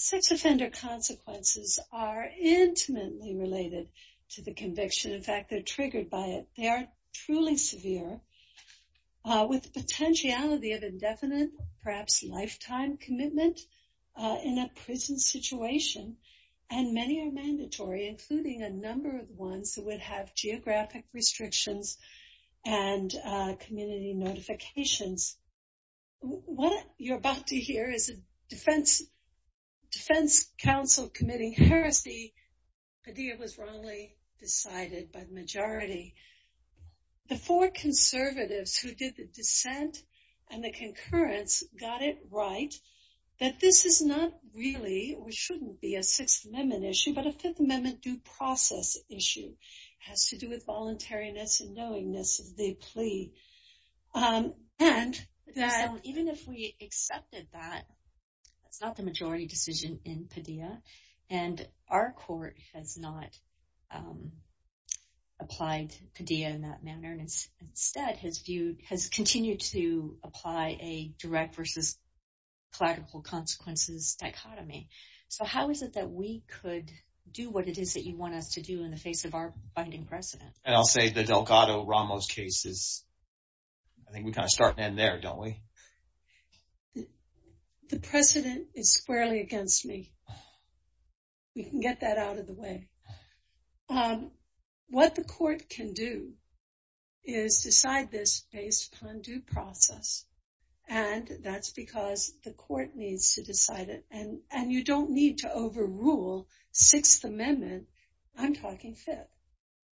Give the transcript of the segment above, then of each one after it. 6 Offender Consequences are intimately related to the conviction. In fact, they are triggered by it. They are truly severe with the potentiality of indefinite, perhaps lifetime commitment in a prison situation, and many are mandatory, including a number of ones that would have geographic restrictions and community notifications. What you're about to hear is a defense counsel committing heresy. The idea was wrongly decided by the majority. The four conservatives who did the dissent and the concurrence got it right that this is not really, or shouldn't be, a 6th Amendment issue, but a 5th Amendment due process issue. It has to do with voluntariness and knowingness of the plea. Even if we accepted that, that's not the majority decision in Padilla, and our court has not applied Padilla in that manner, and instead has continued to apply a direct v. collateral consequences dichotomy. So how is it that we could do what it is that you want us to do in the face of our binding precedent? And I'll say the Delgado-Ramos case is, I think we kind of start and end there, don't we? The precedent is squarely against me. We can get that out of the way. What the court can do is decide this based upon due process, and that's because the court needs to decide it, and you don't need to overrule 6th Amendment. I'm talking 5th.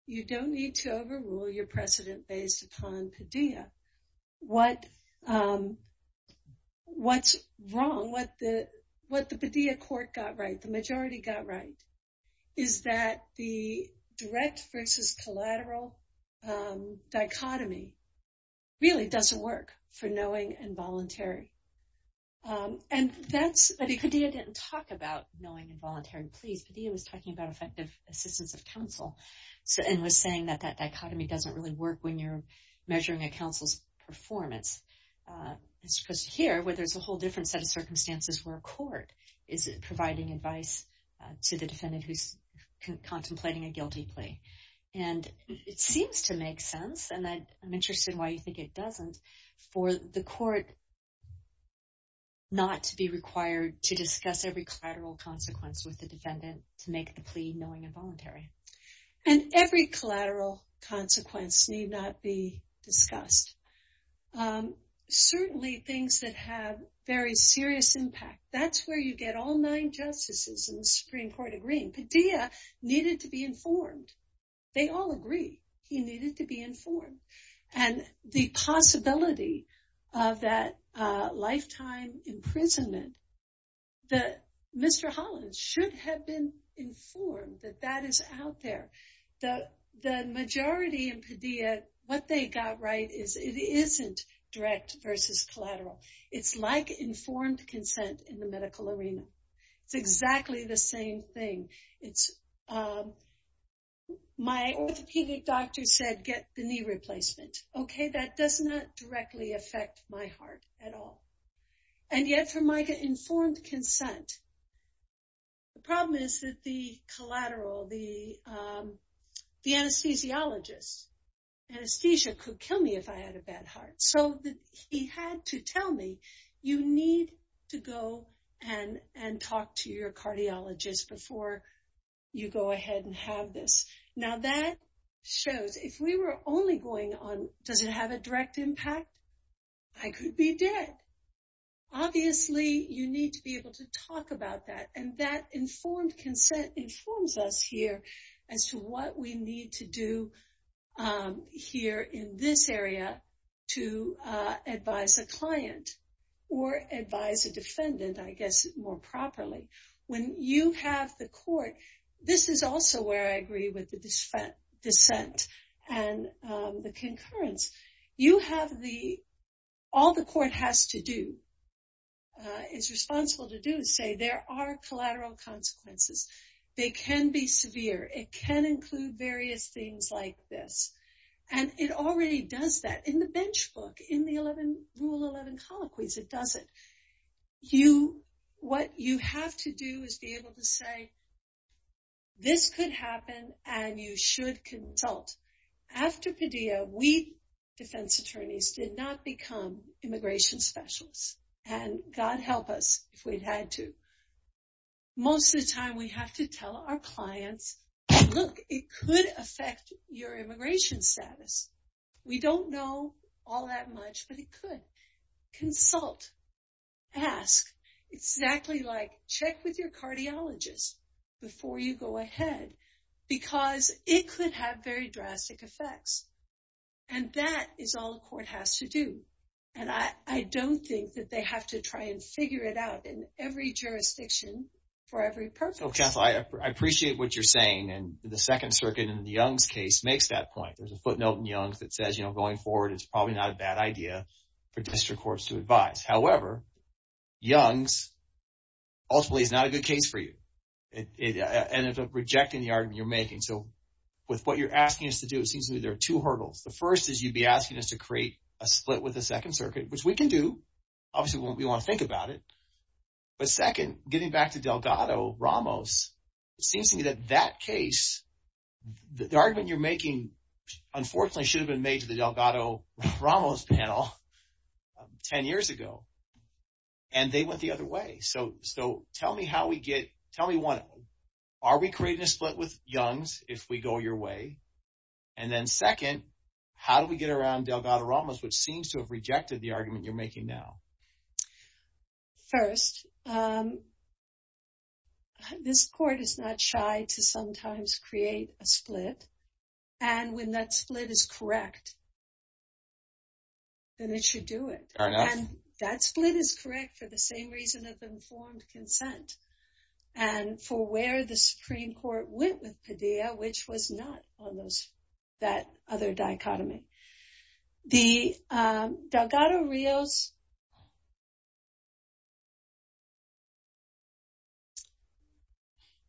You don't need to overrule your precedent based upon Padilla. What's wrong, what the Padilla court got right, the majority got right, is that the direct v. collateral dichotomy really doesn't work for knowing and voluntary. And Padilla didn't talk about knowing and voluntary pleas. Padilla was talking about effective assistance of counsel and was saying that that dichotomy doesn't really work when measuring a counsel's performance, as opposed to here where there's a whole different set of circumstances where a court is providing advice to the defendant who's contemplating a guilty plea. And it seems to make sense, and I'm interested in why you think it doesn't, for the court not to be required to discuss every collateral consequence with the defendant to make the plea knowing and voluntary. And every collateral consequence need not be discussed. Certainly things that have very serious impact, that's where you get all nine justices in the Supreme Court agreeing. Padilla needed to be informed. They all agree he needed to be informed. And the possibility of that lifetime imprisonment, that Mr. Holland should have been informed that that is out there. The majority in Padilla, what they got right is it isn't direct v. collateral. It's like informed consent in the medical arena. It's exactly the same thing. It's my orthopedic doctor said get the knee replacement. Okay, that does not directly affect my heart at all. And yet for my informed consent, the problem is that the collateral, the anesthesiologist, anesthesia could kill me if I had a bad heart. So he had to tell me, you need to go and talk to your cardiologist before you go ahead and have this. Now that shows if we were only going on, does it have a direct impact? I could be dead. Obviously, you need to be able to talk about that. And that informed consent informs us here as to what we advise a defendant, I guess, more properly. When you have the court, this is also where I agree with the dissent and the concurrence. You have the, all the court has to do, is responsible to do is say there are collateral consequences. They can be severe. It can include various things like this. And it already does that in the bench book, in the rule 11 colloquies, it does it. You, what you have to do is be able to say, this could happen and you should consult. After Padilla, we defense attorneys did not become immigration specialists and God help us if we'd had to. Most of the time we have to tell our clients, look, it could affect your immigration status. We don't know all that much, but it could. Consult, ask, exactly like check with your cardiologist before you go ahead, because it could have very drastic effects. And that is all the court has to do. And I don't think that they have to try and figure it out in every jurisdiction for every purpose. Okay. I appreciate what you're saying. And the second circuit in the Young's case makes that point. There's a footnote in Young's that says, you know, going forward, it's probably not a bad idea for district courts to advise. However, Young's ultimately is not a good case for you. And it's rejecting the argument you're making. So with what you're asking us to do, it seems to me there are two hurdles. The first is you'd be asking us to create a split with the second circuit, which we can do. Obviously we want to think about it. But second, getting back to Delgado-Ramos, it seems to me that that case, the argument you're making, unfortunately, should have been made to the Delgado-Ramos panel 10 years ago. And they went the other way. So tell me how we get, tell me one, are we creating a split with Young's if we go your way? And then second, how do we get around Delgado-Ramos, which seems to have rejected the argument you're making now? First, this court is not shy to sometimes create a split. And when that split is correct, then it should do it. And that split is correct for the same reason of informed consent. And for where the Supreme Court went with Padilla, which was not on those, that other dichotomy. The Delgado-Ramos,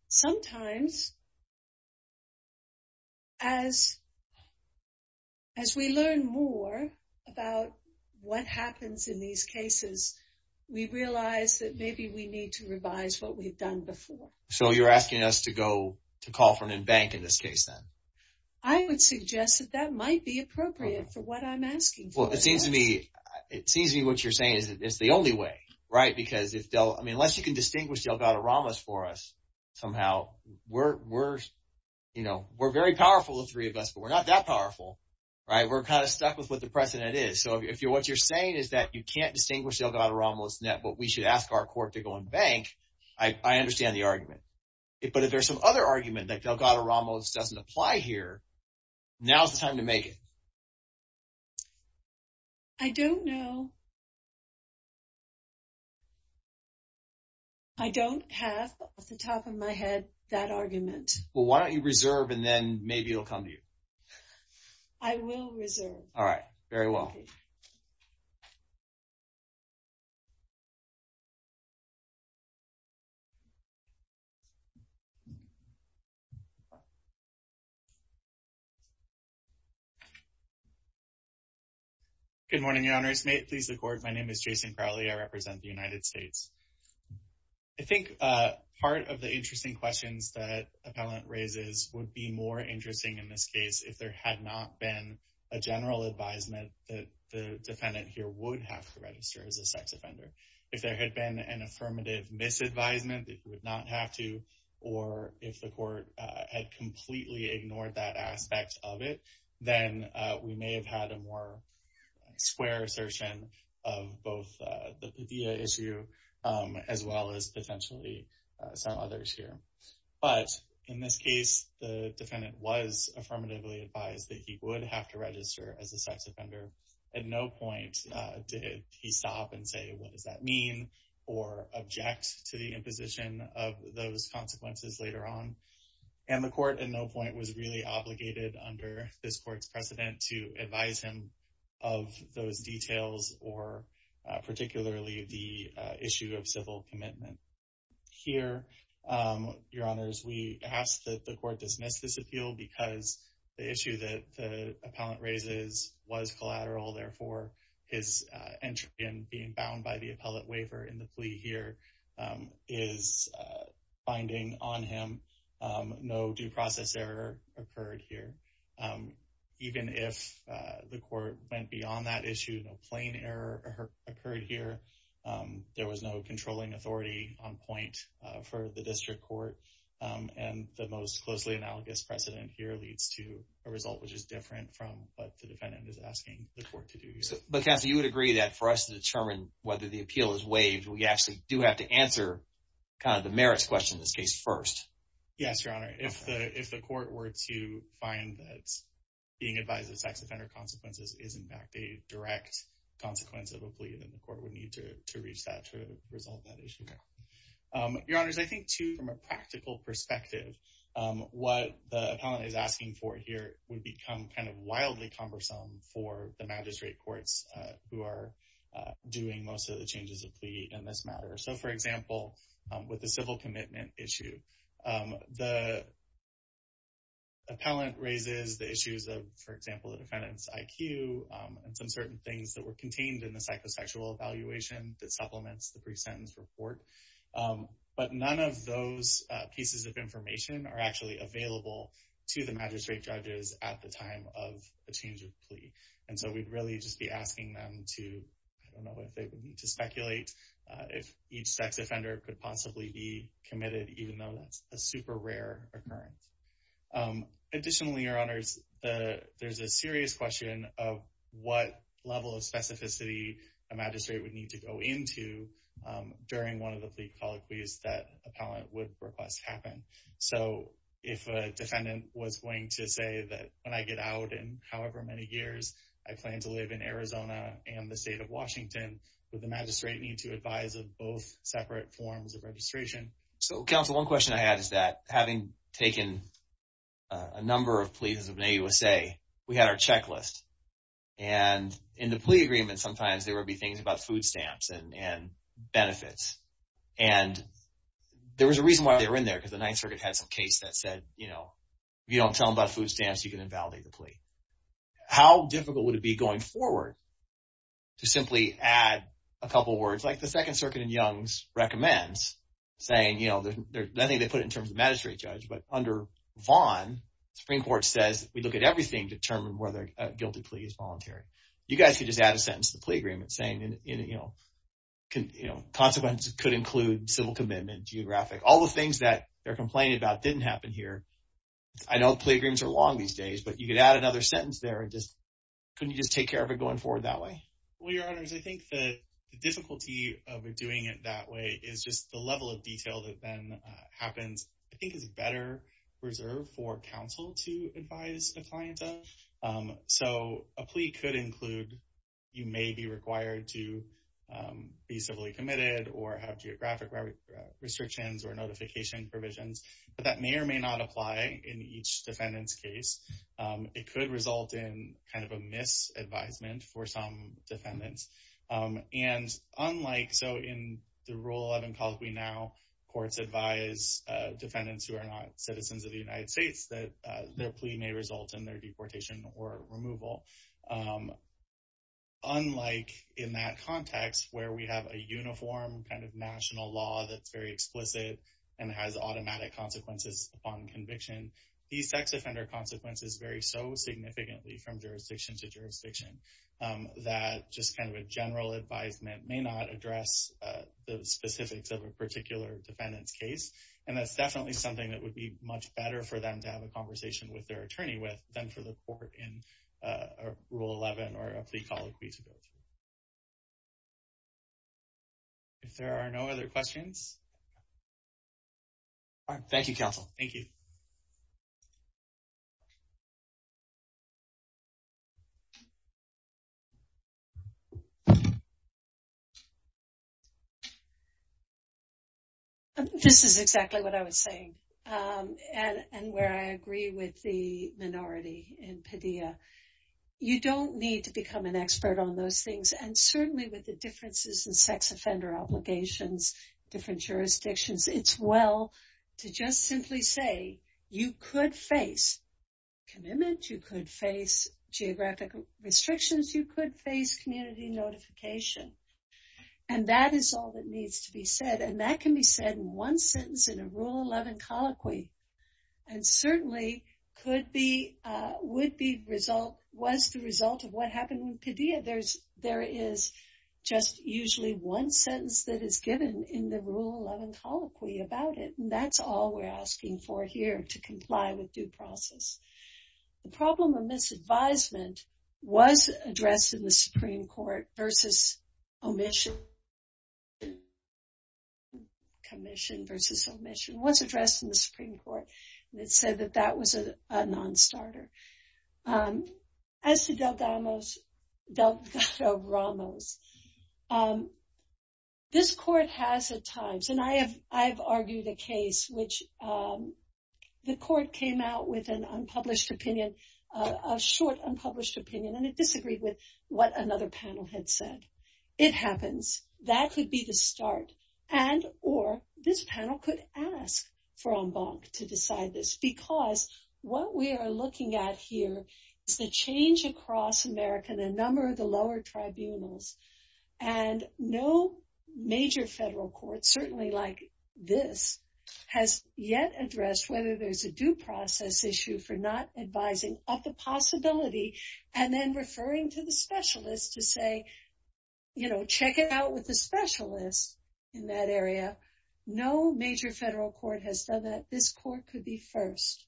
sometimes, as we learn more about what happens in these cases, we realize that maybe we need to revise what we've done before. So you're asking us to go, to call for an embankment in this case then? I would suggest that that might be appropriate for what I'm asking. Well, it seems to me, it seems to me what you're saying is that it's the only way, right? Because if Del, I mean, unless you can distinguish Delgado-Ramos for us, somehow, we're, you know, we're very powerful, the three of us, but we're not that powerful, right? We're kind of stuck with what the precedent is. So if you're, what you're saying is that you can't distinguish Delgado-Ramos net, but we should ask our court to go and bank. I understand the supply here. Now's the time to make it. I don't know. I don't have off the top of my head that argument. Well, why don't you reserve and then maybe it'll come to you. I will reserve. All right. Very well. Good morning, your honors. May it please the court. My name is Jason Crowley. I represent the United States. I think part of the interesting questions that appellant raises would be more general advisement that the defendant here would have to register as a sex offender. If there had been an affirmative misadvisement that you would not have to, or if the court had completely ignored that aspect of it, then we may have had a more square assertion of both the Padilla issue as well as potentially some others here. But in this case, the defendant was affirmatively advised that he would have to register as a sex offender. At no point did he stop and say, what does that mean or object to the imposition of those consequences later on. And the court at no point was really obligated under this court's precedent to advise him of those details or particularly the issue of civil commitment here. Your honors, we ask that the court dismiss this appeal because the issue that the appellant raises was collateral. Therefore, his entry and being bound by the appellate waiver in the plea here is binding on him. No due process error occurred here. Even if the court went beyond that issue, no plain error occurred here. There was no controlling authority on point for the district court. And the most closely analogous precedent here leads to a result which is different from what the defendant is asking the court to do. But you would agree that for us to determine whether the appeal is waived, we actually do have to answer the merits question in this case first. Yes, your honor. If the court were to find that being advised of sex offender consequences is, in fact, a direct consequence of a plea, then the court would need to reach that to practical perspective. What the appellant is asking for here would become kind of wildly cumbersome for the magistrate courts who are doing most of the changes of plea in this matter. So, for example, with the civil commitment issue, the appellant raises the issues of, for example, the defendant's IQ and some certain things that were contained in the psychosexual evaluation that supplements the pre-sentence report. But none of those pieces of information are actually available to the magistrate judges at the time of the change of plea. And so we'd really just be asking them to, I don't know if they would need to speculate if each sex offender could possibly be committed, even though that's a super rare occurrence. Additionally, your honors, there's a So, counsel, one question I had is that having taken a number of pleas in the USA, we had our and benefits. And there was a reason why they were in there because the Ninth Circuit had some case that said, you know, if you don't tell them about food stamps, you can invalidate the plea. How difficult would it be going forward to simply add a couple of words? Like the Second Circuit in Young's recommends saying, you know, I think they put it in terms of magistrate judge, but under Vaughn, the Supreme Court says we look at everything to determine whether a guilty plea is voluntary. You guys could just add a sentence to the plea agreement saying, you know, consequence could include civil commitment, geographic, all the things that they're complaining about didn't happen here. I know the plea agreements are long these days, but you could add another sentence there and just, couldn't you just take care of it going forward that way? Well, your honors, I think the difficulty of doing it that way is just the level of detail that then happens, I think is better reserved for counsel to advise a client. So a plea could include, you may be required to be civilly committed or have geographic restrictions or notification provisions, but that may or may not apply in each defendant's case. It could result in kind of a advisement for some defendants. And unlike, so in the rule 11 calls, we now courts advise defendants who are not citizens of the United States that their plea may result in their deportation or removal. Unlike in that context where we have a uniform kind of national law that's very explicit and has automatic consequences upon conviction, these sex offender consequences vary so significantly from jurisdiction to jurisdiction that just kind of a general advisement may not address the specifics of a particular defendant's case. And that's definitely something that would be much better for them to have a conversation with their attorney with than for the court in rule 11 or a plea call. If there are no other questions. All right. Thank you, counsel. Thank you. This is exactly what I was saying. And where I agree with the minority in Padilla, you don't need to become an expert on those things. And certainly with the differences in sex offender obligations, different jurisdictions, it's well to just simply say you could face commitment, you could face geographic restrictions, you could face community notification. And that is all that needs to be said. And that can be said in one sentence in a rule 11 colloquy. And certainly could be, would be result, was the result of what happened in Padilla. There's, there is just usually one sentence that is given in the rule 11 colloquy about it. And that's all we're asking for here to comply with due process. The problem of misadvisement was addressed in the Supreme Court versus omission. Commission versus omission was addressed in the Supreme Court. And it said that that was a non-starter. As to Del Ramos, this court has at times, and I have, I've argued a case which the court came out with an unpublished opinion, a short unpublished opinion, and it disagreed with what another panel had said. It happens. That could be the start. And, or this panel could ask for en banc to decide this. Because what we are looking at here is the change across America and a number of the lower tribunals. And no major federal court, certainly like this, has yet addressed whether there's a due process issue for not advising of the possibility and then referring to the specialist to say, you know, check it out with a specialist in that area. No major federal court has done that. This court could be first.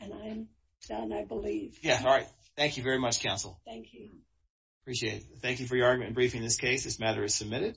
And I'm done, I believe. Yeah. All right. Thank you very much, counsel. Thank you. Appreciate it. Thank you for your argument in briefing this case. This matter is submitted.